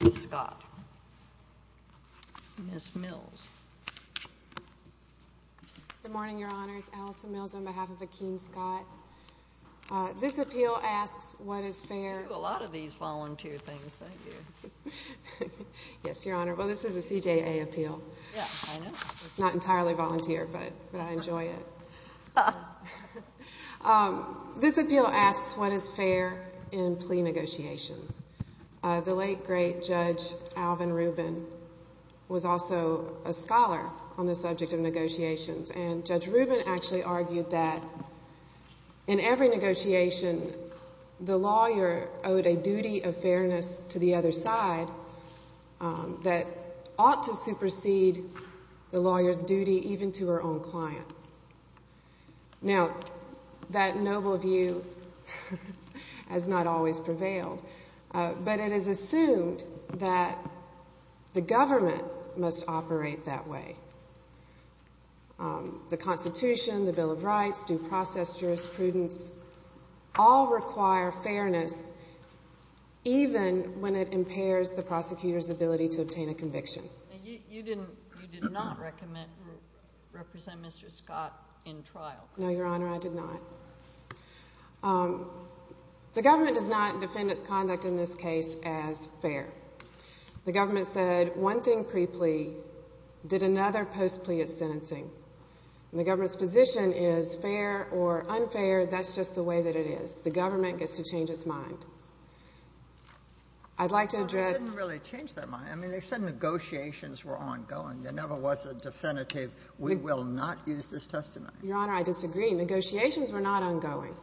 Good morning, your honors. Allison Mills on behalf of Akein Scott. This appeal asks what is fair... You do a lot of these volunteer things, don't you? Yes, your honor. Well, this is a CJA appeal. Yeah, I know. Not entirely volunteer, but I enjoy it. This appeal asks what is fair in plea negotiations. The late, great Judge Alvin Rubin was also a scholar on the subject of negotiations. And Judge Rubin actually argued that in every negotiation, the lawyer owed a duty of fairness to the other side that ought to supersede the lawyer's duty even to her own client. Now, that noble view has not always prevailed, but it is assumed that the government must operate that way. The Constitution, the Bill of Rights, due process jurisprudence, all require fairness even when it impairs the prosecutor's ability to obtain a conviction. You did not recommend representing Mr. Scott in trial. No, your honor, I did not. The government does not defend its conduct in this case as fair. The government said one thing pre-plea, did another post-plea at sentencing. And the government's position is fair or unfair, that's just the way that it is. The government gets to change its mind. I'd like to address... Negotiations were ongoing. There never was a definitive, we will not use this testimony. Your honor, I disagree. Negotiations were not ongoing.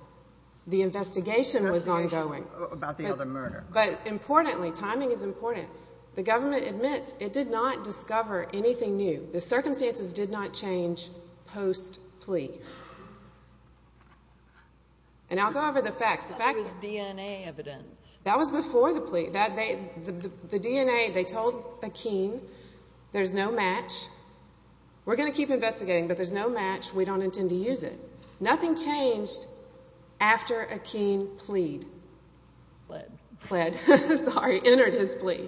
The investigation was ongoing. Investigation about the other murder. But importantly, timing is important, the government admits it did not discover anything new. The circumstances did not change post-plea. And I'll go over the facts. That was DNA evidence. That was before the plea. The DNA, they told Akeem, there's no match. We're going to keep investigating, but there's no match. We don't intend to use it. Nothing changed after Akeem plead. Plead. Plead. Sorry, entered his plea.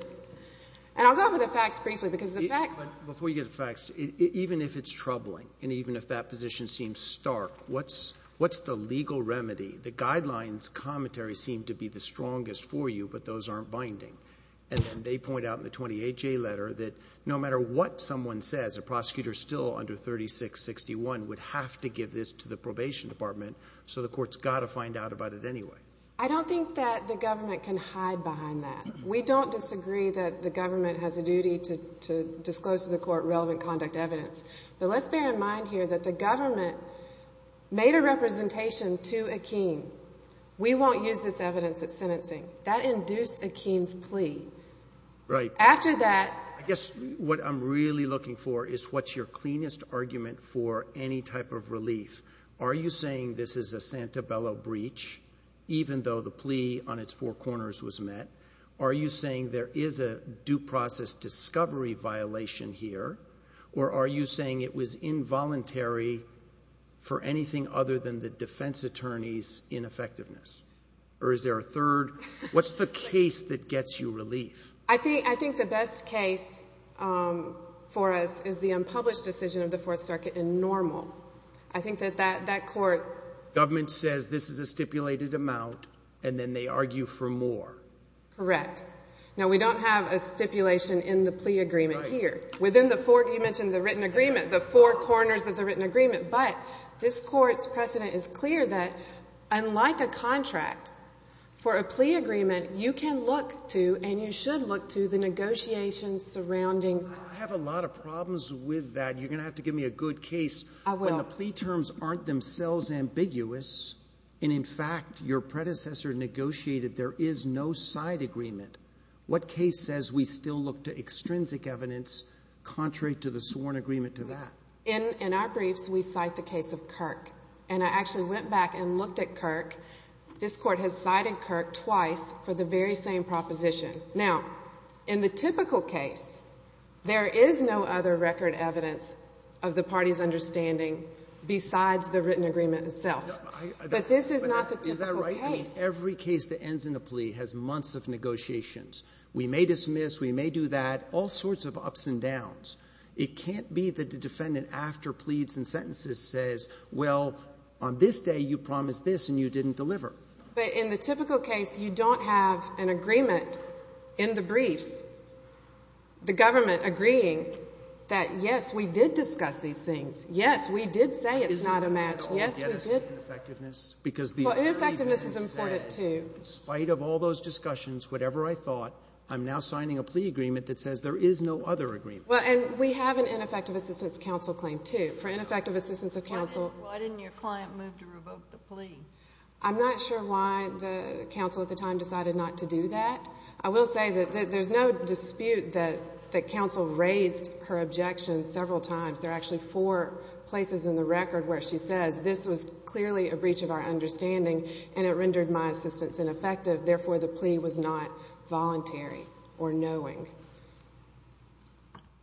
And I'll go over the facts briefly because the facts... Before you get to the facts, even if it's troubling and even if that position seems stark, what's the legal remedy? The guidelines commentary seem to be the strongest for you, but those aren't binding. And then they point out in the 28-J letter that no matter what someone says, a prosecutor still under 36-61 would have to give this to the probation department, so the court's got to find out about it anyway. I don't think that the government can hide behind that. We don't disagree that the government has a duty to disclose to the court relevant conduct evidence. But let's bear in mind here that the government made a representation to Akeem. We won't use this evidence at sentencing. That induced Akeem's plea. Right. After that... I guess what I'm really looking for is what's your cleanest argument for any type of relief. Are you saying this is a Santabella breach, even though the plea on its four corners was met? Are you saying there is a due process discovery violation here? Or are you saying it was involuntary for anything other than the defense attorney's ineffectiveness? Or is there a third? What's the case that gets you relief? I think the best case for us is the unpublished decision of the Fourth Circuit in Normal. I think that that court... Government says this is a stipulated amount, and then they argue for more. Correct. Now, we don't have a stipulation in the plea agreement here. Within the four... You mentioned the written agreement. The four corners of the written agreement. But this court's precedent is clear that, unlike a contract for a plea agreement, you can look to, and you should look to, the negotiations surrounding... I have a lot of problems with that. You're going to have to give me a good case. I will. When the plea terms aren't themselves ambiguous, and in fact, your predecessor negotiated there is no side agreement, what case says we still look to extrinsic evidence contrary to the sworn agreement to that? In our briefs, we cite the case of Kirk. And I actually went back and looked at Kirk. This court has cited Kirk twice for the very same proposition. Now, in the typical case, there is no other record evidence of the party's understanding besides the written agreement itself. But this is not the typical case. Every case that ends in a plea has months of negotiations. We may dismiss, we may do that, all sorts of ups and downs. It can't be that the defendant, after pleads and sentences, says, well, on this day, you promised this, and you didn't deliver. But in the typical case, you don't have an agreement in the briefs, the government agreeing that, yes, we did discuss these things. Yes, we did say it's not a match. Yes, we did. Well, ineffectiveness is important, too. In spite of all those discussions, whatever I thought, I'm now signing a plea agreement that says there is no other agreement. Well, and we have an ineffective assistance counsel claim, too. For ineffective assistance of counsel— Why didn't your client move to revoke the plea? I'm not sure why the counsel at the time decided not to do that. I will say that there's no dispute that counsel raised her objection several times. There are actually four places in the case, and it was clearly a breach of our understanding, and it rendered my assistance ineffective. Therefore, the plea was not voluntary or knowing.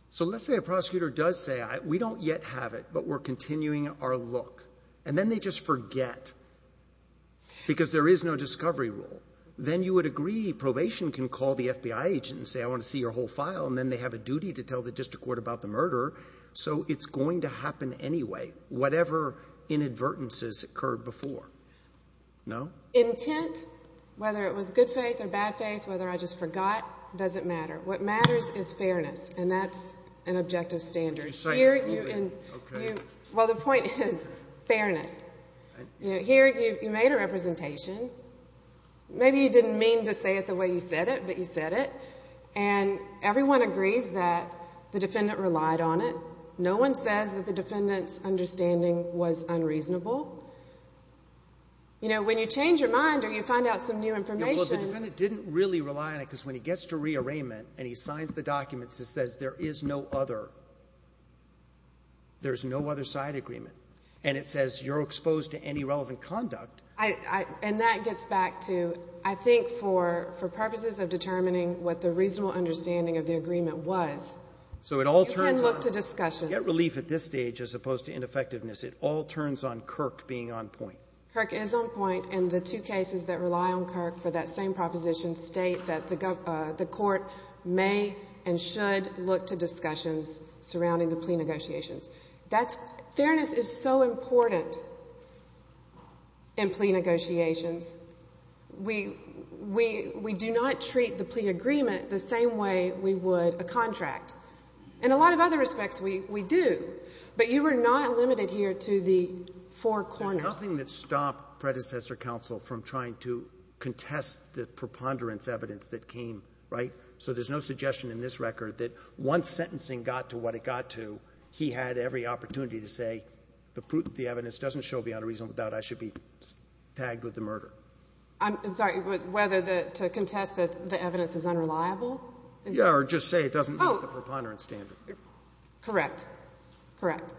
So let's say a prosecutor does say, we don't yet have it, but we're continuing our look. And then they just forget, because there is no discovery rule. Then you would agree, probation can call the FBI agent and say, I want to see your whole file, and then they have a duty to tell the district court about the murderer. So it's going to happen anyway. Whatever inadvertence has occurred before. No? Intent, whether it was good faith or bad faith, whether I just forgot, doesn't matter. What matters is fairness, and that's an objective standard. Would you say it clearly? Okay. Well, the point is fairness. Here, you made a representation. Maybe you didn't mean to say it the way you said it, but you said it. And everyone agrees that the defendant relied on it. No one says that the defendant's understanding was unreasonable. You know, when you change your mind or you find out some new information. Well, the defendant didn't really rely on it, because when he gets to rearrangement and he signs the documents, it says there is no other. There's no other side agreement. And it says you're exposed to any relevant conduct. And that gets back to, I think, for purposes of determining what the reasonable understanding of the agreement was. So it all turns on — You can look to discussions. Get relief at this stage as opposed to ineffectiveness. It all turns on Kirk being on point. Kirk is on point. And the two cases that rely on Kirk for that same proposition state that the court may and should look to discussions surrounding the plea negotiations. That's — fairness is so important in plea negotiations. We do not treat the plea agreement the same way we would a contract. In a lot of other respects, we do. But you are not limited here to the four corners. There's nothing that stopped predecessor counsel from trying to contest the preponderance evidence that came, right? So there's no suggestion in this record that once sentencing got to what it got to, he had every opportunity to say, the evidence doesn't show beyond a reasonable doubt I should be tagged with the murder. I'm sorry. Whether to contest that the evidence is unreliable? Yeah. Or just say it doesn't meet the preponderance standard. Correct. Correct.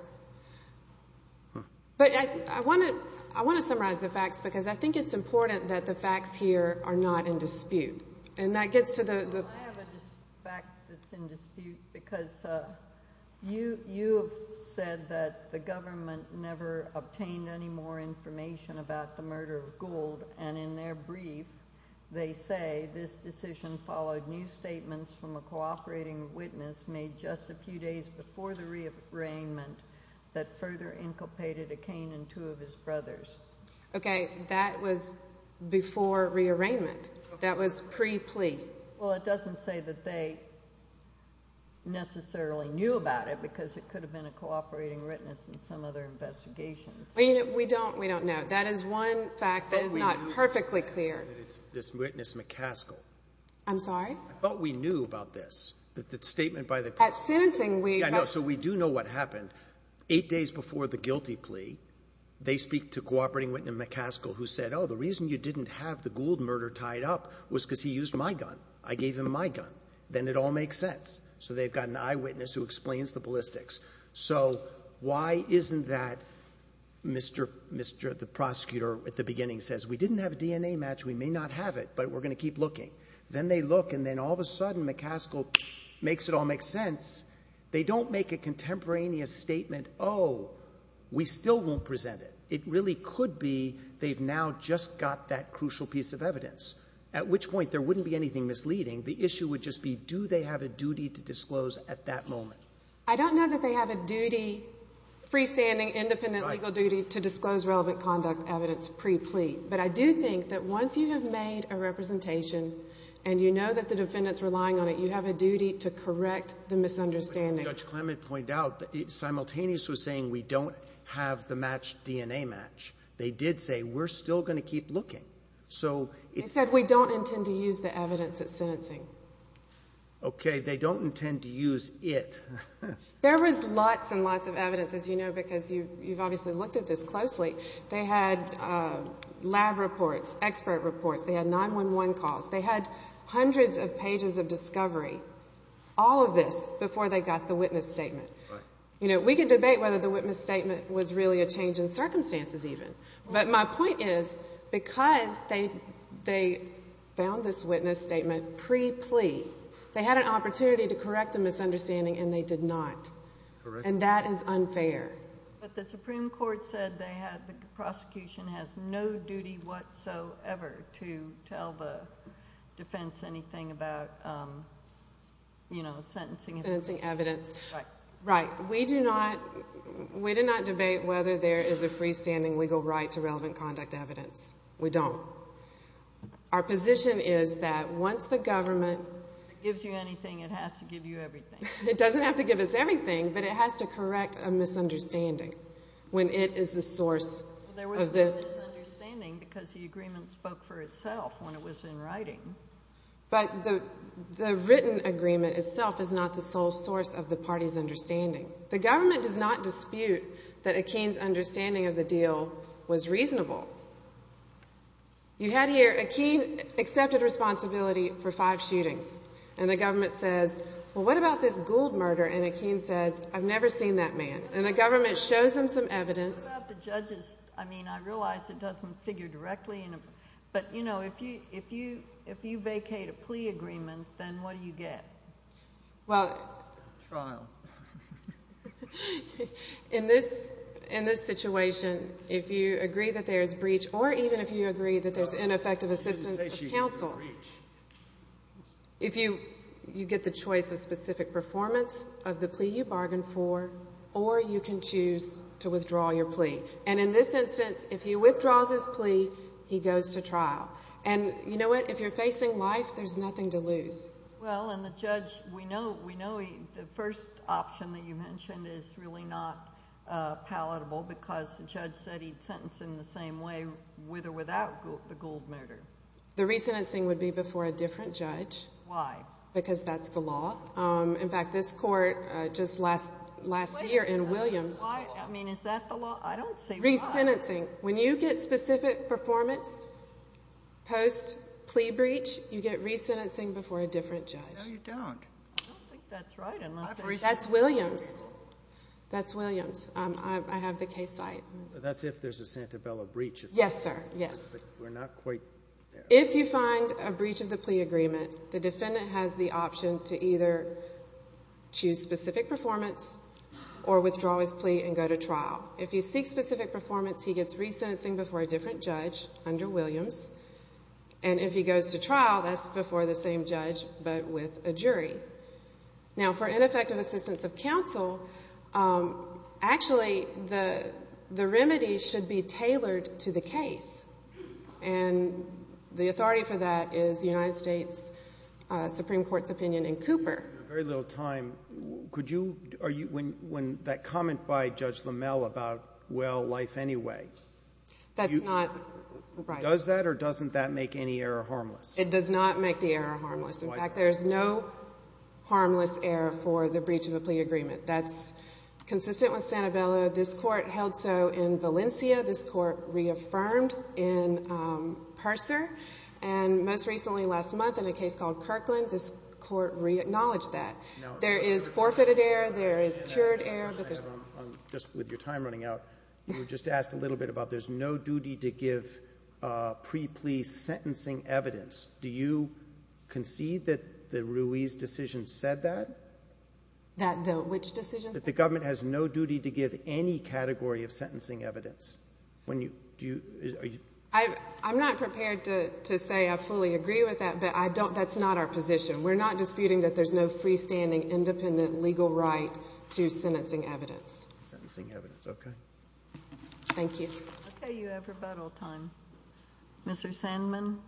But I want to summarize the facts, because I think it's important that the facts here are not in dispute. And that gets to the — Well, I have a fact that's in dispute, because you have said that the government never obtained any more information about the murder of Gould. And in their brief, they say this decision followed new statements from a cooperating witness made just a few days before the rearrangement that further inculpated a cane and two of his brothers. Okay. That was before rearrangement. That was pre-plea. Well, it doesn't say that they necessarily knew about it, because it could have been a cooperating witness in some other investigation. Well, you know, we don't. We don't know. That is one fact that is not perfectly clear. But we know that it's this witness McCaskill. I'm sorry? I thought we knew about this, that the statement by the — At sentencing, we — Yeah, no. So we do know what happened. Eight days before the guilty plea, they speak to cooperating witness McCaskill, who said, oh, the reason you didn't have the Gould murder tied up was because he used my gun. I gave him my gun. Then it all makes sense. So they've an eyewitness who explains the ballistics. So why isn't that Mr. — the prosecutor at the beginning says, we didn't have a DNA match. We may not have it, but we're going to keep looking. Then they look, and then all of a sudden, McCaskill makes it all make sense. They don't make a contemporaneous statement, oh, we still won't present it. It really could be they've now just got that crucial piece of evidence, at which point there wouldn't be misleading. The issue would just be, do they have a duty to disclose at that moment? I don't know that they have a duty, freestanding, independent legal duty, to disclose relevant conduct evidence pre-plea. But I do think that once you have made a representation, and you know that the defendant's relying on it, you have a duty to correct the misunderstanding. Judge Clement pointed out that Simultaneous was saying we don't have the matched DNA match. They did say, we're still going to keep looking. So — They said, we don't intend to use the evidence at sentencing. Okay, they don't intend to use it. There was lots and lots of evidence, as you know, because you've obviously looked at this closely. They had lab reports, expert reports. They had 911 calls. They had hundreds of pages of discovery, all of this, before they got the witness statement. We could debate whether the witness statement was really a change in circumstances, even. But my point is, because they found this witness statement pre-plea, they had an opportunity to correct the misunderstanding, and they did not. Correct. And that is unfair. But the Supreme Court said the prosecution has no duty whatsoever to tell the defense anything about, you know, sentencing. Sentencing evidence. Right. Right. We do not — we do not debate whether there is a freestanding legal right to relevant conduct evidence. We don't. Our position is that once the government — Gives you anything, it has to give you everything. It doesn't have to give us everything, but it has to correct a misunderstanding, when it is the source of the — There was a misunderstanding because the agreement spoke for itself when it was in writing. But the written agreement itself is not the sole source of the party's understanding. The government does not dispute that Akeen's understanding of the deal was reasonable. You had here, Akeen accepted responsibility for five shootings. And the government says, well, what about this Gould murder? And Akeen says, I've never seen that man. And the government shows him some evidence. What about the judges? I mean, I realize it doesn't figure directly. But, you know, if you vacate a plea agreement, then what do you get? Well — Trial. In this situation, if you agree that there is breach, or even if you agree that there's ineffective assistance of counsel, if you — you get the choice of specific performance of the plea you bargained for, or you can choose to withdraw your plea. And in this instance, if he withdraws his plea, he goes to trial. And you know what? If you're facing life, there's nothing to lose. Well, and the judge — we know — we know the first option that you mentioned is really not palatable because the judge said he'd sentence him the same way, with or without the Gould murder. The resentencing would be before a different judge. Why? Because that's the law. In fact, this court just last — last year in Williams — Why? I mean, is that the law? I don't see why. Resentencing. When you get specific performance post-plea breach, you get resentencing before a different judge. No, you don't. I don't think that's right unless — That's Williams. That's Williams. I have the case site. That's if there's a Santabella breach. Yes, sir. Yes. We're not quite there. If you find a breach of the plea agreement, the defendant has the option to either choose specific performance or withdraw his plea and go to trial. If he seeks specific performance, he gets resentencing before a different judge under Williams. And if he goes to trial, that's before the same judge but with a jury. Now, for ineffective assistance of counsel, actually, the remedy should be tailored to the case. And the authority for that is the United States Supreme Court's opinion in Cooper. We have very little time. Could you — are you — when that comment by Judge LaMelle about, well, life anyway — That's not right. Does that or doesn't that make any error harmless? It does not make the error harmless. In fact, there's no harmless error for the breach of a plea agreement. That's consistent with Santabella. This Court held so in Valencia. This Court reaffirmed in Purser. And most recently, last month, in a case called Kirkland, this Court reacknowledged that. There is forfeited error. There is cured error. Just with your time running out, you were just asked a little bit about there's no duty to give pre-plea sentencing evidence. Do you concede that the Ruiz decision said that? That which decision? That the government has no duty to give any category of sentencing evidence. When you — do you — are you — I'm not prepared to say I fully agree with that. But I don't — that's not our position. We're not disputing that there's no freestanding, independent legal right to sentencing evidence. Sentencing evidence, okay. Thank you. Okay. You have rebuttal time. Mr. Sandman.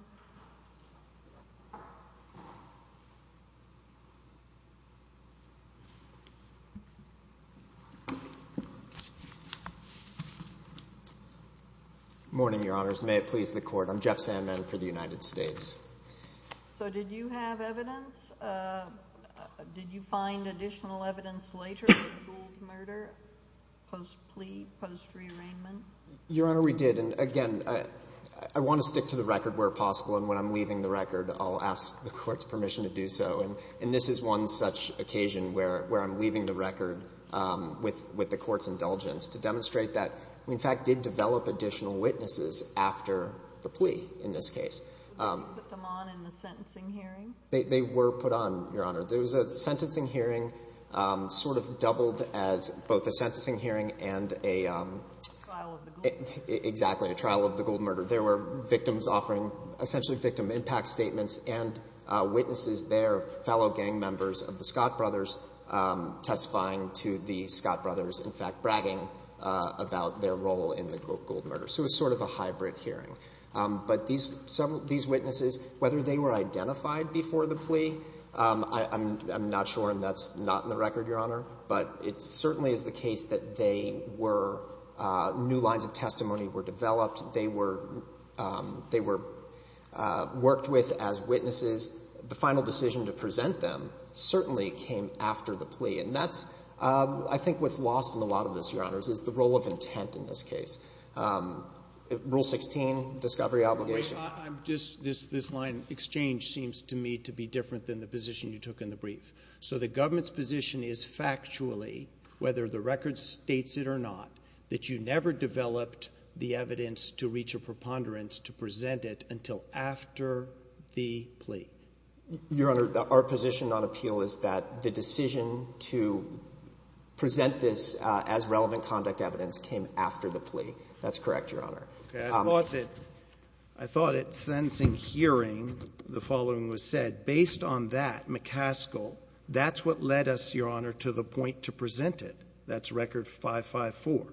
Morning, Your Honors. May it please the Court. I'm Jeff Sandman for the United States. So did you have evidence? Did you find additional evidence later in the jeweled murder, post-plea, post-rearrangement? Your Honor, we did. And again, I want to stick to the record where possible. And when I'm leaving the record, I'll ask the Court's permission to do so. And this is one such occasion where I'm leaving the record with the Court's indulgence to demonstrate that we, in fact, did develop additional witnesses after the plea in this case. Did you put them on in the sentencing hearing? They were put on, Your Honor. There was a sentencing hearing, sort of doubled as both a sentencing hearing and a trial of the gold murder. Exactly, a trial of the gold murder. There were victims offering essentially victim impact statements and witnesses there, fellow gang members of the Scott brothers, testifying to the Scott brothers, in fact, bragging about their role in the gold murder. So it was sort of a hybrid hearing. But these witnesses, whether they were identified before the plea, I'm not sure, and that's not in the record, Your Honor. But it certainly is the case that they were, new lines of testimony were developed. They were worked with as witnesses. The final decision to present them certainly came after the plea. And that's, I think, what's lost in a lot of this, Your Honor, is the role of intent in this case. Rule 16, discovery obligation. Wait, this line, exchange, seems to me to be different than the position you took in the brief. So the government's position is factually, whether the record states it or not, that you never developed the evidence to reach a preponderance to present it until after the plea? Your Honor, our position on appeal is that the decision to present this as relevant conduct evidence came after the plea. That's correct, Your Honor. Okay. I thought that, I thought at sentencing hearing, the following was said. Based on that, McCaskill, that's what led us, Your Honor, to the point to present it. That's Record 554.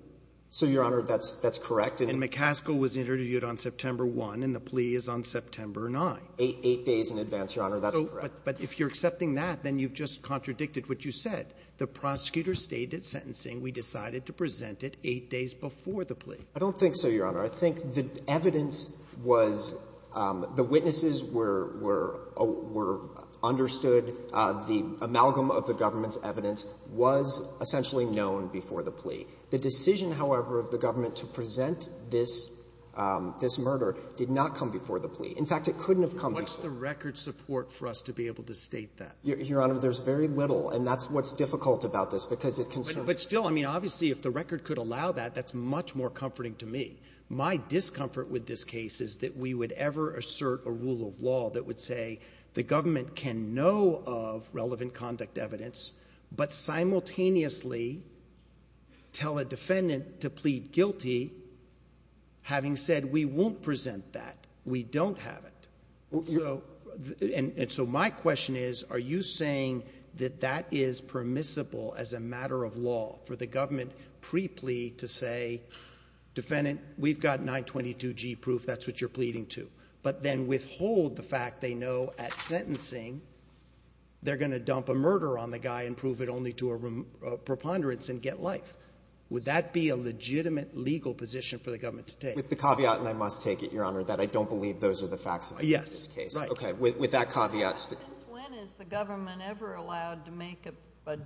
So, Your Honor, that's correct. And McCaskill was interviewed on September 1, and the plea is on September 9. Eight days in advance, Your Honor. That's correct. But if you're accepting that, then you've just contradicted what you said. The prosecutor stated at sentencing, we decided to present it eight days before the plea. I don't think so, Your Honor. I think the evidence was, the witnesses were understood, the amalgam of the government's evidence was essentially known before the plea. The decision, however, of the government to present this murder did not come before the plea. In fact, it couldn't have come before. What's the record support for us to be able to state that? Your Honor, there's very little, and that's what's difficult about this, because it concerns... But still, I mean, obviously, if the record could allow that, that's much more comforting to me. My discomfort with this case is that we would ever assert a rule of law that would say the government can know of relevant conduct evidence, but simultaneously tell a defendant to plead guilty, having said we won't present that. We don't have it. So my question is, are you saying that that is permissible as a matter of law for the government pre-plea to say, defendant, we've got 922G proof, that's what you're pleading to, but then withhold the fact they know at sentencing they're going to dump a murder on the guy and prove it only to a preponderance and get life? Would that be a legitimate legal position for the government to take? With the caveat, and I must take it, Your Honor, that I don't believe those are the facts. Okay, with that caveat... Since when is the government ever allowed to make a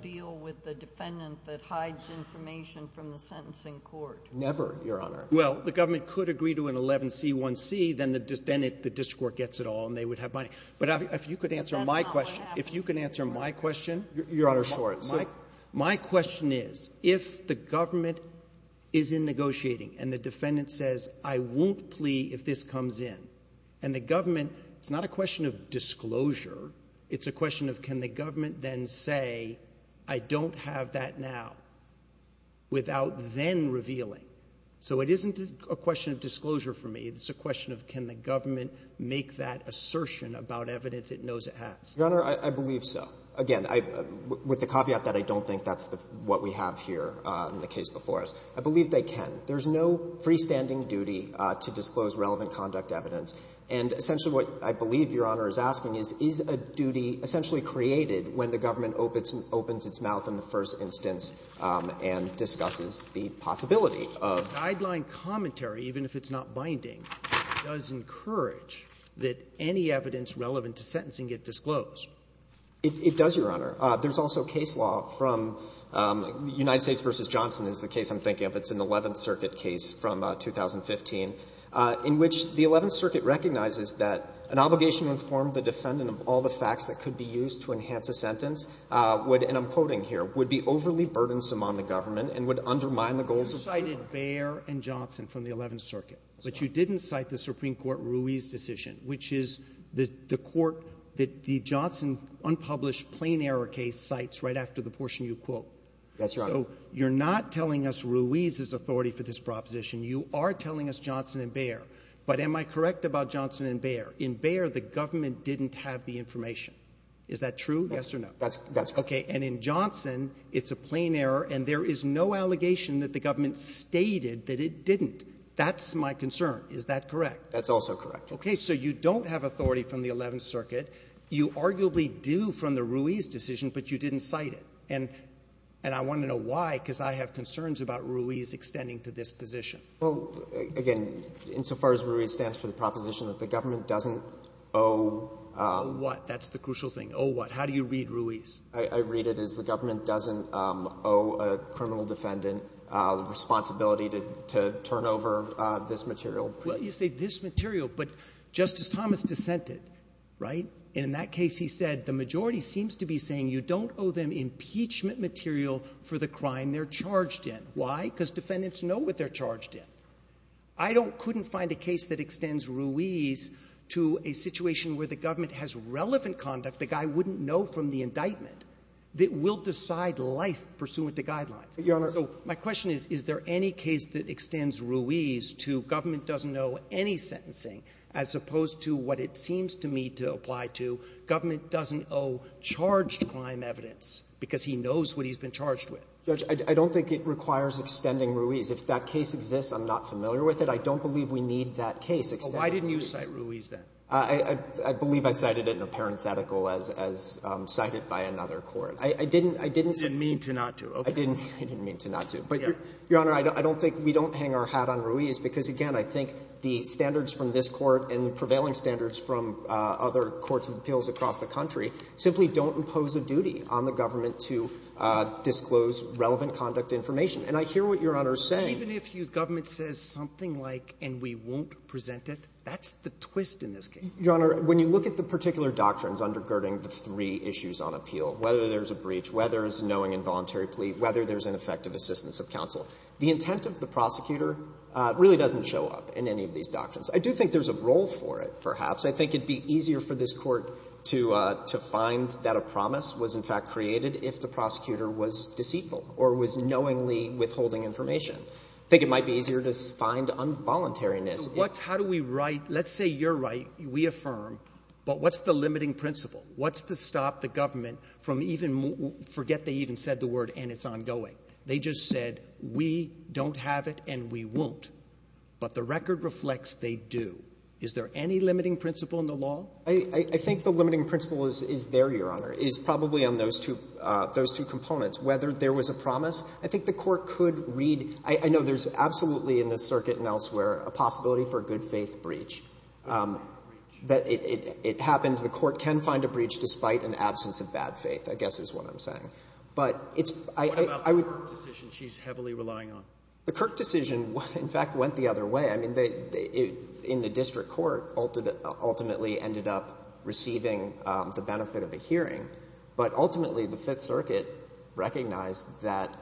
deal with the defendant that hides information from the sentencing court? Never, Your Honor. Well, the government could agree to an 11C1C, then the district court gets it all and they would have money. But if you could answer my question, if you can answer my question... Your Honor, sure. My question is, if the government is in negotiating and the defendant says, I won't plead if this comes in, and the government... It's not a question of disclosure. It's a question of, can the government then say, I don't have that now, without then revealing? So it isn't a question of disclosure for me. It's a question of, can the government make that assertion about evidence it knows it has? Your Honor, I believe so. Again, with the caveat that I don't think that's what we have here in the case before us, I believe they can. There's no freestanding duty to disclose relevant conduct evidence. And essentially what I believe Your Honor is asking is, is a duty essentially created when the government opens its mouth in the first instance and discusses the possibility of... Guideline commentary, even if it's not binding, does encourage that any evidence relevant to sentencing get disclosed. It does, Your Honor. There's also case law from United States v. Johnson is the case I'm thinking of. It's an Eleventh Circuit case from 2015, in which the Eleventh Circuit recognizes that an obligation to inform the defendant of all the facts that could be used to enhance a sentence would, and I'm quoting here, would be overly burdensome on the government and would undermine the goals of the court. You cited Baer and Johnson from the Eleventh Circuit, but you didn't cite the Supreme Court Ruiz decision, which is the court that the Johnson unpublished plain-error case cites right after the portion you quote. That's right. So you're not telling us Ruiz's authority for this proposition. You are telling us Johnson and Baer. But am I correct about Johnson and Baer? In Baer, the government didn't have the information. Is that true? Yes or no? That's correct. Okay. And in Johnson, it's a plain error, and there is no allegation that the government stated that it didn't. That's my concern. Is that correct? That's also correct. Okay. So you don't have authority from the Eleventh Circuit. You arguably do from the Ruiz decision, but you didn't cite it. And I want to know why, because I have concerns about Ruiz extending to this position. Well, again, insofar as Ruiz stands for the proposition that the government doesn't owe — Owe what? That's the crucial thing. Owe what? How do you read Ruiz? I read it as the government doesn't owe a criminal defendant the responsibility to turn over this material. Well, you say this material, but Justice Thomas dissented, right? And in that case, he said the majority seems to be saying you don't owe them impeachment material for the crime they're charged in. Why? Because defendants know what they're charged in. I couldn't find a case that extends Ruiz to a situation where the government has relevant conduct the guy wouldn't know from the indictment that will decide life pursuant to guidelines. But, Your Honor — So my question is, is there any case that extends Ruiz to government doesn't owe any sentencing as opposed to what it seems to me to apply to government doesn't owe charged crime evidence because he knows what he's been charged with? Judge, I don't think it requires extending Ruiz. If that case exists, I'm not familiar with it. I don't believe we need that case extending Ruiz. Well, why didn't you cite Ruiz then? I believe I cited it in a parenthetical as cited by another court. I didn't — You didn't mean to not to. I didn't mean to not to. But I think the standards from this Court and the prevailing standards from other courts and appeals across the country simply don't impose a duty on the government to disclose relevant conduct information. And I hear what Your Honor is saying — Even if your government says something like, and we won't present it, that's the twist in this case. Your Honor, when you look at the particular doctrines undergirding the three issues on appeal, whether there's a breach, whether there's knowing involuntary I do think there's a role for it, perhaps. I think it would be easier for this Court to find that a promise was, in fact, created if the prosecutor was deceitful or was knowingly withholding information. I think it might be easier to find involuntariness. How do we write — let's say you're right, we affirm, but what's the limiting principle? What's to stop the government from even — forget they even said the word, and it's ongoing. They just said, we don't have it and we won't. But the record reflects they do. Is there any limiting principle in the law? I think the limiting principle is there, Your Honor, is probably on those two — those two components. Whether there was a promise, I think the Court could read — I know there's absolutely in this circuit and elsewhere a possibility for a good-faith breach. That it happens, the Court can find a breach despite an absence of bad faith, I guess is what I'm saying. But it's — What about the Kirk decision she's heavily relying on? The Kirk decision, in fact, went the other way. I mean, in the district court, ultimately ended up receiving the benefit of a hearing. But ultimately, the Fifth Circuit recognized that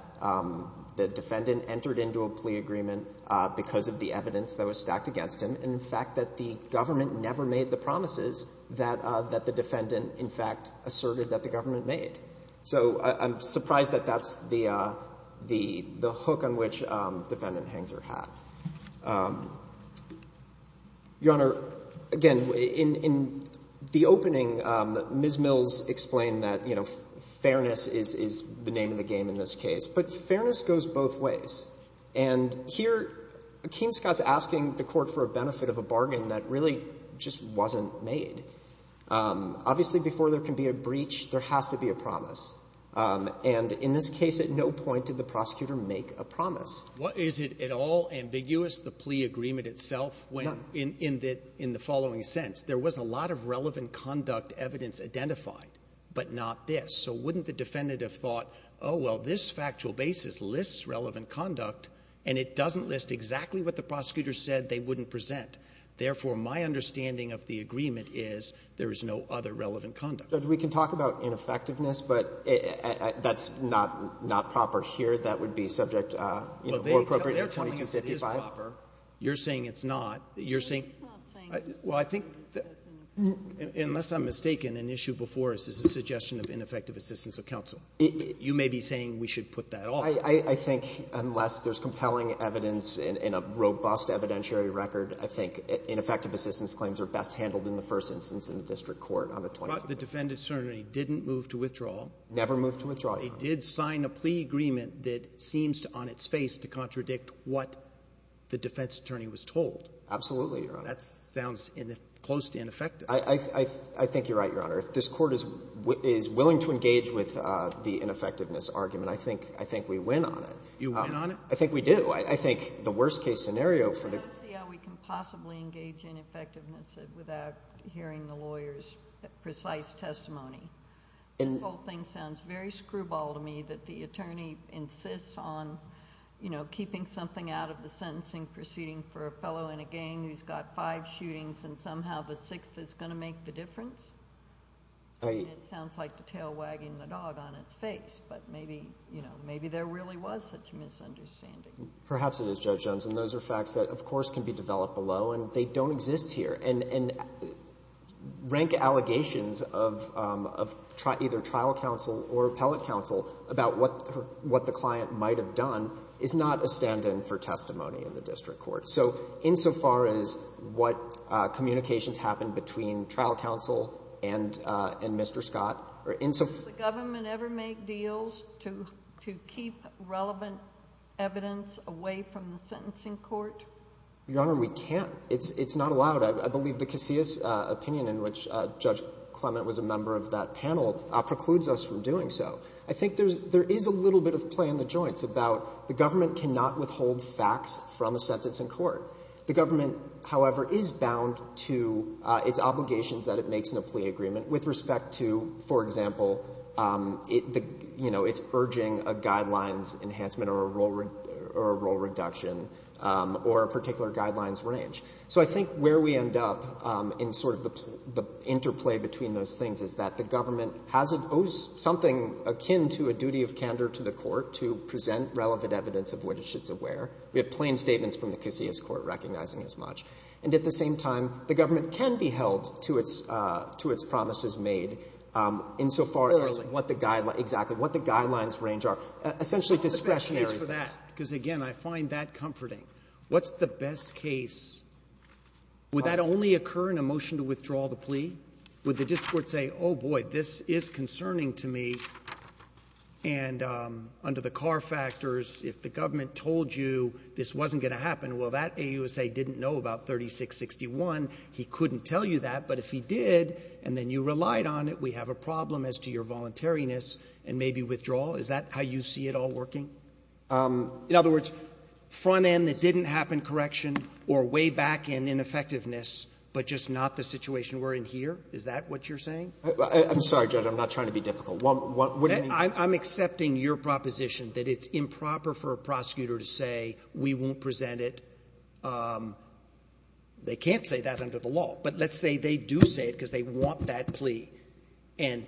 the defendant entered into a plea agreement because of the evidence that was stacked against him, and in fact, that the government never made the promises that the defendant, in fact, asserted that the government made. So I'm surprised that that's the hook on which defendant Hengser had. Your Honor, again, in the opening, Ms. Mills explained that, you know, fairness is the name of the game in this case. But fairness goes both ways. And here, Keene-Scott's asking the Court for a benefit of a bargain that really just wasn't made. Obviously, before there can be a breach, there has to be a promise. And in this case, at no point did the prosecutor make a promise. Is it at all ambiguous, the plea agreement itself, when — No. — in the following sense? There was a lot of relevant conduct evidence identified, but not this. So wouldn't the defendant have thought, oh, well, this factual basis lists relevant conduct, and it doesn't list exactly what the prosecutor said they wouldn't present. Therefore, my understanding of the agreement is there is no other relevant conduct. Judge, we can talk about ineffectiveness, but that's not — not proper here. That would be subject, you know, more appropriately to 2255. Well, they're telling us it is proper. You're saying it's not. You're saying — I'm not saying it's not. Well, I think — unless I'm mistaken, an issue before us is a suggestion of ineffective assistance of counsel. You may be saying we should put that off. I think unless there's compelling evidence in a robust evidentiary record, I think ineffective assistance claims are best handled in the first instance in the district court on the 2255. But the defendant certainly didn't move to withdrawal. Never moved to withdrawal, Your Honor. They did sign a plea agreement that seems to, on its face, to contradict what the defense attorney was told. Absolutely, Your Honor. That sounds close to ineffective. I think you're right, Your Honor. If this Court is willing to engage with the ineffectiveness argument, I think — I think we win on it. You win on it? I think we do. I think the worst-case scenario for the — I don't see how we can possibly engage in effectiveness without hearing the lawyer's precise testimony. This whole thing sounds very screwball to me, that the attorney insists on, you know, keeping something out of the sentencing proceeding for a fellow in a gang who's got five shootings and somehow the sixth is going to make the difference. I — It sounds like the tail wagging the dog on its face. But maybe, you know, maybe there really was such a misunderstanding. Perhaps it is, Judge Jones. And those are facts that, of course, can be developed below. And they don't exist here. And rank allegations of either trial counsel or appellate counsel about what the client might have done is not a stand-in for testimony in the district court. So insofar as what communications happen between trial counsel and Mr. Scott, or insofar as what the trial counsel might have done is not a stand-in for testimony in the district court, I think there is a little bit of play in the joints about the government cannot withhold facts from a sentence in court. The government, however, is bound to its obligations that it makes in a plea agreement with respect to, for example, the — you know, it's urging a guidelines enhancement or a rule reduction or a particular guidelines range. So I think where we end up in sort of the interplay between those things is that the government has — owes something akin to a duty of candor to the court to present relevant evidence of which it's aware. We have plain statements from the Casillas Court recognizing as much. And at the same time, the government can be held to its promises made insofar as what the guidelines — exactly what the guidelines range are, essentially discretionary things. Roberts. Because, again, I find that comforting. What's the best case? Would that only occur in a motion to withdraw the plea? Would the district court say, oh, boy, this is concerning to me, and under the car factors, if the government told you this wasn't going to happen, well, that AUSA didn't know about 3661, he couldn't tell you that. But if he did, and then you relied on it, we have a problem as to your voluntariness and maybe withdrawal. Is that how you see it all working? In other words, front end that didn't happen, correction, or way back end, ineffectiveness, but just not the situation we're in here, is that what you're saying? I'm sorry, Judge. I'm not trying to be difficult. What do you mean? I'm accepting your proposition that it's improper for a prosecutor to say we won't present it. They can't say that under the law. But let's say they do say it because they want that plea. And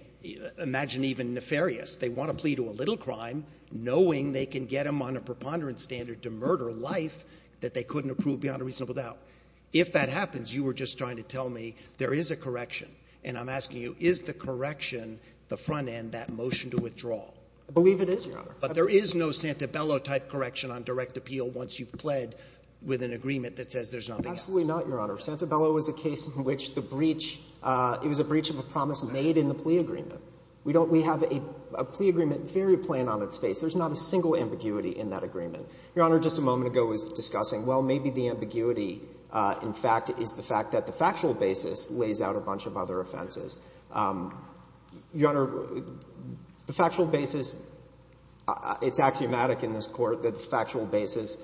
imagine even nefarious. They want a plea to a little crime knowing they can get them on a preponderance standard to murder life that they couldn't approve beyond a reasonable doubt. If that happens, you were just trying to tell me there is a correction. And I'm asking you, is the correction the front end, that motion to withdraw? I believe it is, Your Honor. But there is no Santabella-type correction on direct appeal once you've pled with an agreement that says there's nothing else. Absolutely not, Your Honor. Santabella was a case in which the breach, it was a breach of a promise made in the plea agreement. We don't, we have a plea agreement very plain on its face. There's not a single ambiguity in that agreement. Your Honor, just a moment ago was discussing, well, maybe the ambiguity, in fact, is the fact that the factual basis lays out a bunch of other offenses. Your Honor, the factual basis, it's axiomatic in this Court that the factual basis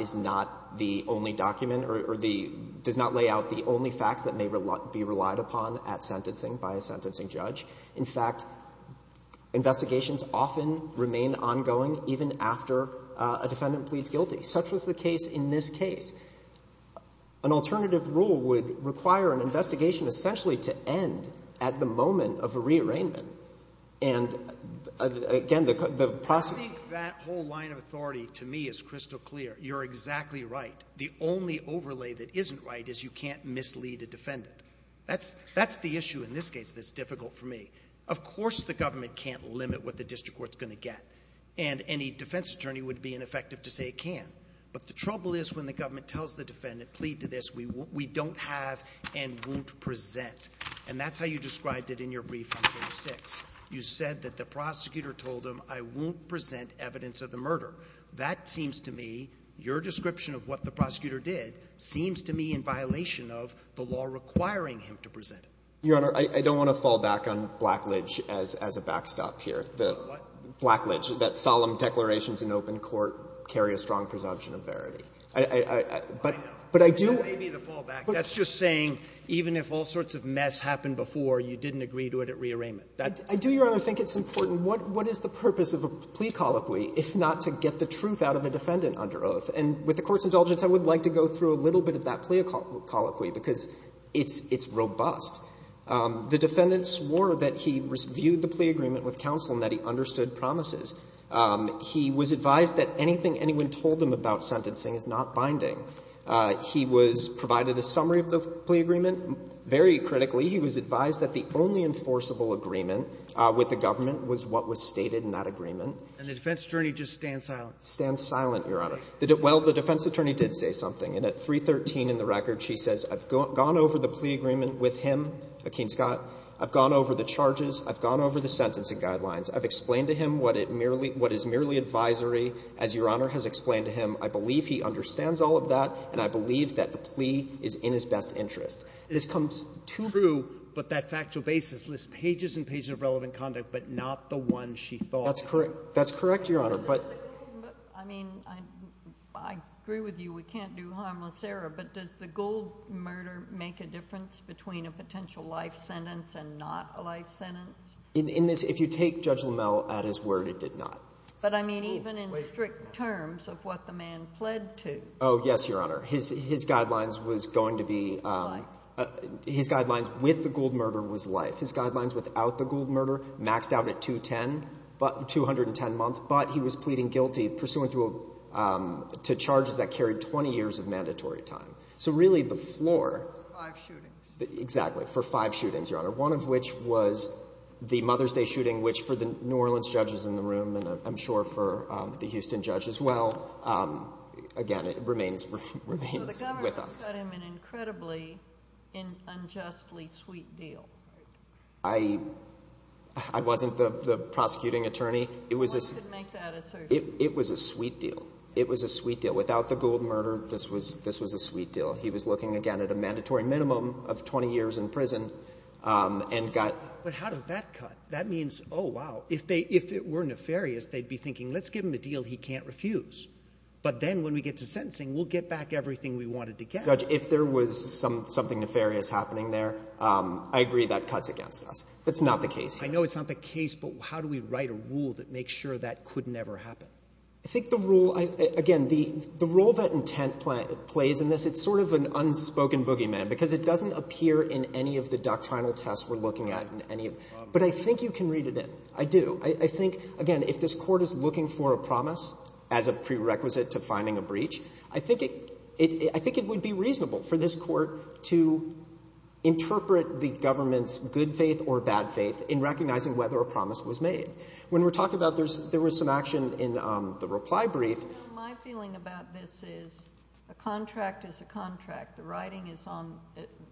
is not the only document or the, does not lay out the only facts that may be relied upon at sentencing by a sentencing judge. In fact, investigations often remain ongoing even after a defendant pleads guilty. Such was the case in this case. An alternative rule would require an investigation essentially to end at the moment of a rearrangement. And again, the process... I think that whole line of authority, to me, is crystal clear. You're exactly right. The only overlay that isn't right is you can't mislead a defendant. That's, that's the issue in this case that's difficult for me. Of course the government can't limit what the district court's going to get. And any defense attorney would be ineffective to say it can. But the trouble is when the government tells the defendant, plead to this, we don't have and won't present. And that's how you described it in your brief on page 6. You said that the prosecutor told him, I won't present evidence of the murder. That seems to me, your description of what the prosecutor did, seems to me in violation of the law requiring him to present it. Your Honor, I don't want to fall back on Blackledge as a backstop here. The Blackledge, that solemn declarations in open court carry a strong presumption of verity. I, I, I, but, but I do. That may be the fallback. That's just saying even if all sorts of mess happened before, you didn't agree to it at rearrangement. I do, your Honor, think it's important. What, what is the purpose of a plea colloquy if not to get the truth out of a defendant under oath? And with the Court's indulgence, I would like to go through a little bit of that plea colloquy because it's, it's robust. The defendant swore that he viewed the plea agreement with counsel and that he understood promises. He was advised that anything anyone told him about sentencing is not binding. He was provided a summary of the plea agreement. Very critically, he was advised that the only enforceable agreement with the government was what was stated in that agreement. And the defense attorney just stands silent? Stands silent, your Honor. Well, the defense attorney did say something. And at 313 in the record, she says, I've gone over the plea agreement with him, Akeem Scott. I've gone over the charges. I've gone over the sentencing guidelines. I've explained to him what it merely, what is merely advisory. As your Honor has explained to him, I believe he understands all of that, and I believe that the plea is in his best interest. This comes true, but that factual basis lists pages and pages of relevant conduct, but not the one she thought. That's correct. That's correct, your Honor. But the thing is, I mean, I agree with you. We can't do harmless error, but does the gold murder make a difference between a potential life sentence and not a life sentence? In this, if you take Judge LaMelle at his word, it did not. But I mean, even in strict terms of what the man pled to. Oh, yes, your Honor. His guidelines was going to be, his guidelines with the gold murder was life. His guidelines without the gold murder maxed out at 210 months, but he was pleading guilty pursuant to charges that carried 20 years of mandatory time. So really, the floor. Five shootings. Exactly, for five shootings, your Honor. One of which was the Mother's Day shooting, which for the New Orleans judges in the room, and I'm sure for the Houston judge as well, again, it remains with us. So the government got him an incredibly unjustly sweet deal. I wasn't the prosecuting attorney. It was a sweet deal. It was a sweet deal. Without the gold murder, this was a sweet deal. He was looking, again, at a mandatory minimum of 20 years in prison and got... But how does that cut? That means, oh, wow, if it were nefarious, they'd be thinking, let's give him a deal he can't refuse. But then when we get to sentencing, we'll get back everything we wanted to get. Judge, if there was something nefarious happening there, I agree that cuts against us. That's not the case here. I know it's not the case, but how do we write a rule that makes sure that could never happen? I think the rule, again, the role that intent plays in this, it's sort of an unspoken boogeyman because it doesn't appear in any of the doctrinal tests we're looking at in any... But I think you can read it in. I do. I think, again, if this court is looking for a promise as a prerequisite to finding a breach, I think it would be reasonable for this court to interpret the government's good faith or bad faith in recognizing whether a promise was made. When we're talking about, there was some action in the reply brief. My feeling about this is a contract is a contract. The writing is on,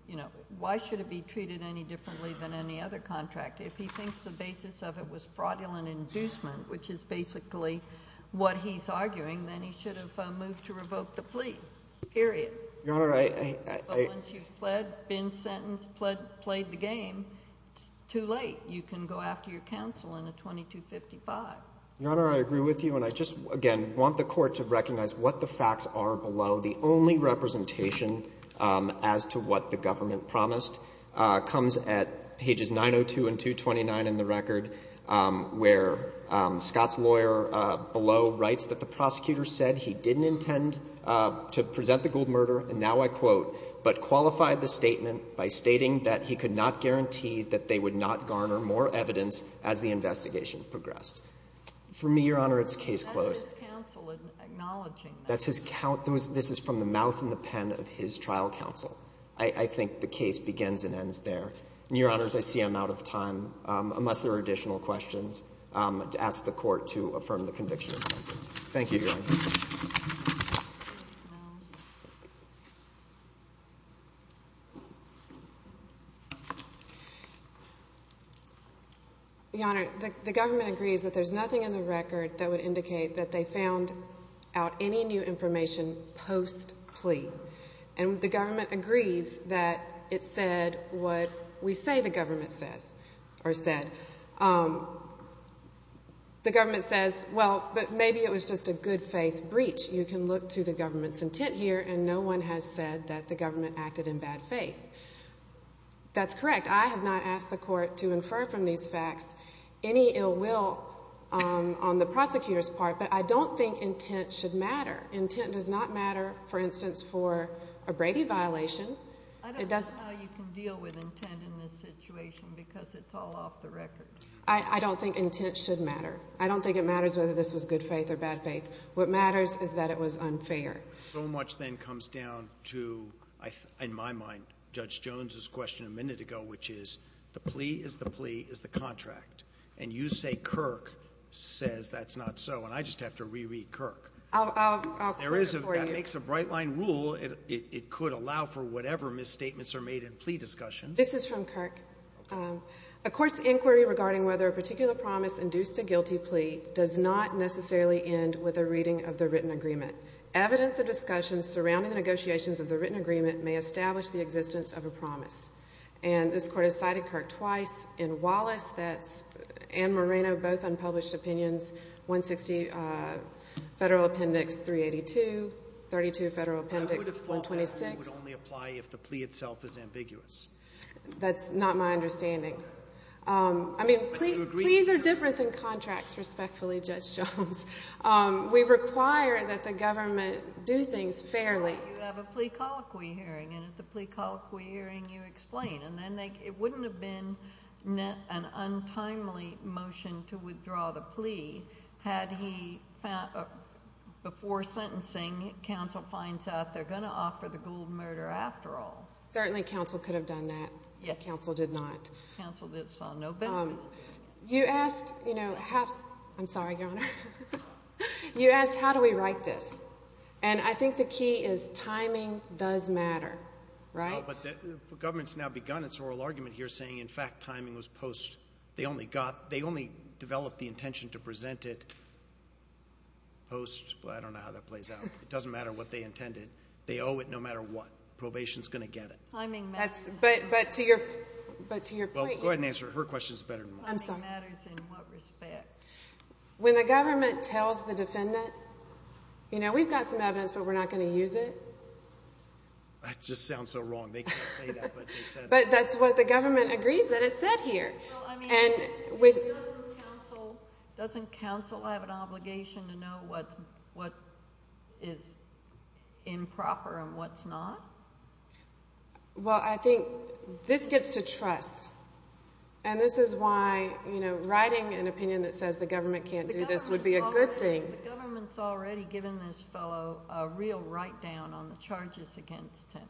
you know, why should it be treated any differently than any other contract? If he thinks the basis of it was fraudulent inducement, which is basically what he's arguing, then he should have moved to revoke the plea, period. Your Honor, I... But once you've pled, been sentenced, pled, played the game, it's too late. You can go after your counsel in a 2255. Your Honor, I agree with you. And I just, again, want the court to recognize what the facts are below. The only representation as to what the government promised comes at pages 902 and 229 in the record where Scott's lawyer below writes that the prosecutor said he didn't intend to present the Gould murder, and now I quote, but qualified the statement by stating that he could not guarantee that they would not garner more evidence as the investigation progressed. For me, Your Honor, it's case closed. That's his counsel acknowledging that. That's his, this is from the mouth and the pen of his trial counsel. I think the case begins and ends there. Your Honors, I see I'm out of time, unless there are additional questions, ask the court to affirm the conviction. Thank you, Your Honor. Your Honor, the government agrees that there's nothing in the record that would indicate that they found out any new information post-plea. And the government agrees that it said what we say the government says or said. The government says, well, but maybe it was just a good faith breach. You can look to the government's intent here, and no one has said that the government acted in bad faith. That's correct. I have not asked the court to infer from these facts any ill will on the prosecutor's part, but I don't think intent should matter. Intent does not matter, for instance, for a Brady violation. It doesn't. I don't know how you can deal with intent in this situation, because it's all off the record. I don't think intent should matter. I don't think it matters whether this was good faith or bad faith. What matters is that it was unfair. So much then comes down to, in my mind, Judge Jones's question a minute ago, which is the plea is the plea is the contract. And you say Kirk says that's not so. And I just have to reread Kirk. I'll quote it for you. That makes a bright-line rule. It could allow for whatever misstatements are made in plea discussions. This is from Kirk. A court's inquiry regarding whether a particular promise induced a guilty plea does not necessarily end with a reading of the written agreement. Evidence of discussions surrounding the negotiations of the written agreement may establish the existence of a promise. And this court has cited Kirk twice. In Wallace, that's Anne Moreno, both unpublished opinions, 160 Federal Appendix 382, 32 Federal Appendix 126. It would only apply if the plea itself is ambiguous. That's not my understanding. I mean, pleas are different than contracts, respectfully, Judge Jones. We require that the government do things fairly. You have a plea colloquy hearing. And at the plea colloquy hearing, you explain. And then it wouldn't have been an untimely motion to withdraw the plea had he, before sentencing, counsel finds out they're going to offer the ghouled murder after all. Certainly, counsel could have done that. Counsel did not. Counsel did saw no benefit. You asked, you know, how, I'm sorry, Your Honor. You asked, how do we write this? And I think the key is timing does matter, right? But the government's now begun its oral argument here saying, in fact, timing was post. They only got, they only developed the intention to present it post. Well, I don't know how that plays out. It doesn't matter what they intended. They owe it no matter what. Probation's going to get it. Timing matters. But to your, but to your point. Well, go ahead and answer. Her question's better than mine. Timing matters in what respect? When the government tells the defendant, you know, we've got some evidence, but we're not going to use it. That just sounds so wrong. They can't say that, but they said that. But that's what the government agrees that it said here. Well, I mean, doesn't counsel have an obligation to know what is improper and what's not? Well, I think this gets to trust. And this is why, you know, writing an opinion that says the government can't do this would be a good thing. The government's already given this fellow a real write-down on the charges against him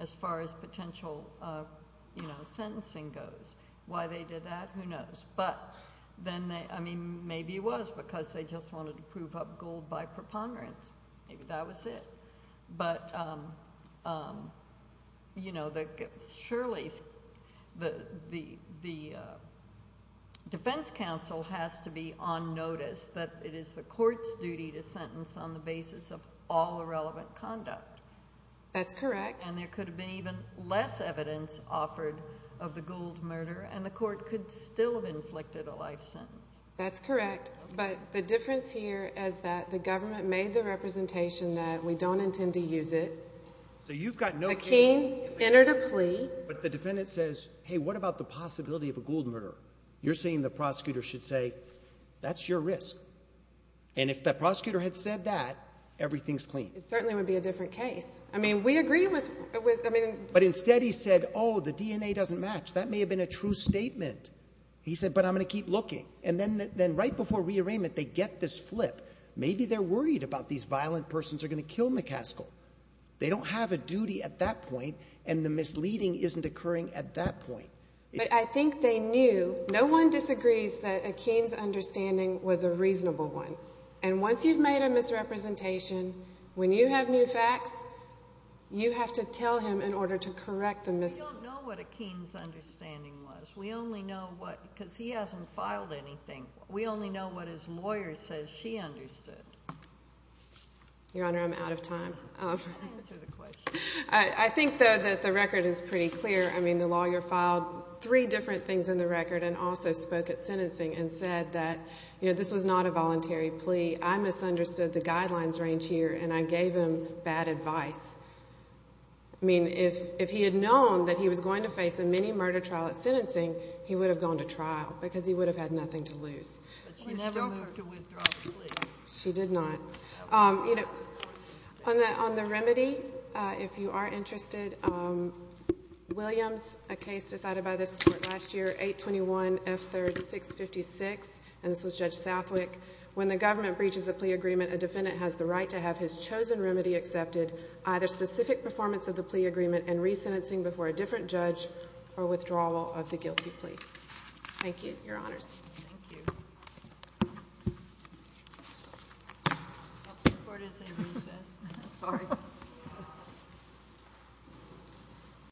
as far as potential, you know, sentencing goes. Why they did that, who knows. But then they, I mean, maybe it was because they just wanted to prove up gold by preponderance. Maybe that was it. But, you know, surely the defense counsel has to be on notice that it is the court's duty to sentence on the basis of all irrelevant conduct. That's correct. And there could have been even less evidence offered of the gold murder, and the court could still have inflicted a life sentence. That's correct. But the difference here is that the government made the representation that we don't intend to use it. So you've got no case. A king entered a plea. But the defendant says, hey, what about the possibility of a gold murder? You're saying the prosecutor should say, that's your risk. And if the prosecutor had said that, everything's clean. It certainly would be a different case. I mean, we agree with, I mean. But instead he said, oh, the DNA doesn't match. That may have been a true statement. He said, but I'm going to keep looking. And then right before rearrangement, they get this flip. Maybe they're worried about these violent persons are going to kill McCaskill. They don't have a duty at that point, and the misleading isn't occurring at that point. But I think they knew, no one disagrees that Akeen's understanding was a reasonable one. And once you've made a misrepresentation, when you have new facts, you have to tell him in order to correct the misrepresentation. We don't know what Akeen's understanding was. We only know what, because he hasn't filed anything. We only know what his lawyer says she understood. Your Honor, I'm out of time. Answer the question. I think, though, that the record is pretty clear. I mean, the lawyer filed three different things in the record, and also spoke at sentencing and said that, you know, this was not a voluntary plea. I misunderstood the guidelines range here, and I gave him bad advice. I mean, if he had known that he was going to face a mini murder trial at sentencing, he would have gone to trial, because he would have had nothing to lose. But she never moved to withdraw the plea. She did not. You know, on the remedy, if you are interested, Williams, a case decided by this Court last year, 821 F. 3rd 656, and this was Judge Southwick. When the government breaches a plea agreement, a defendant has the right to have his chosen remedy accepted, either specific performance of the plea agreement and resentencing before a different judge, or withdrawal of the guilty plea. Thank you, your honors. Thank you. The court is in recess. Sorry.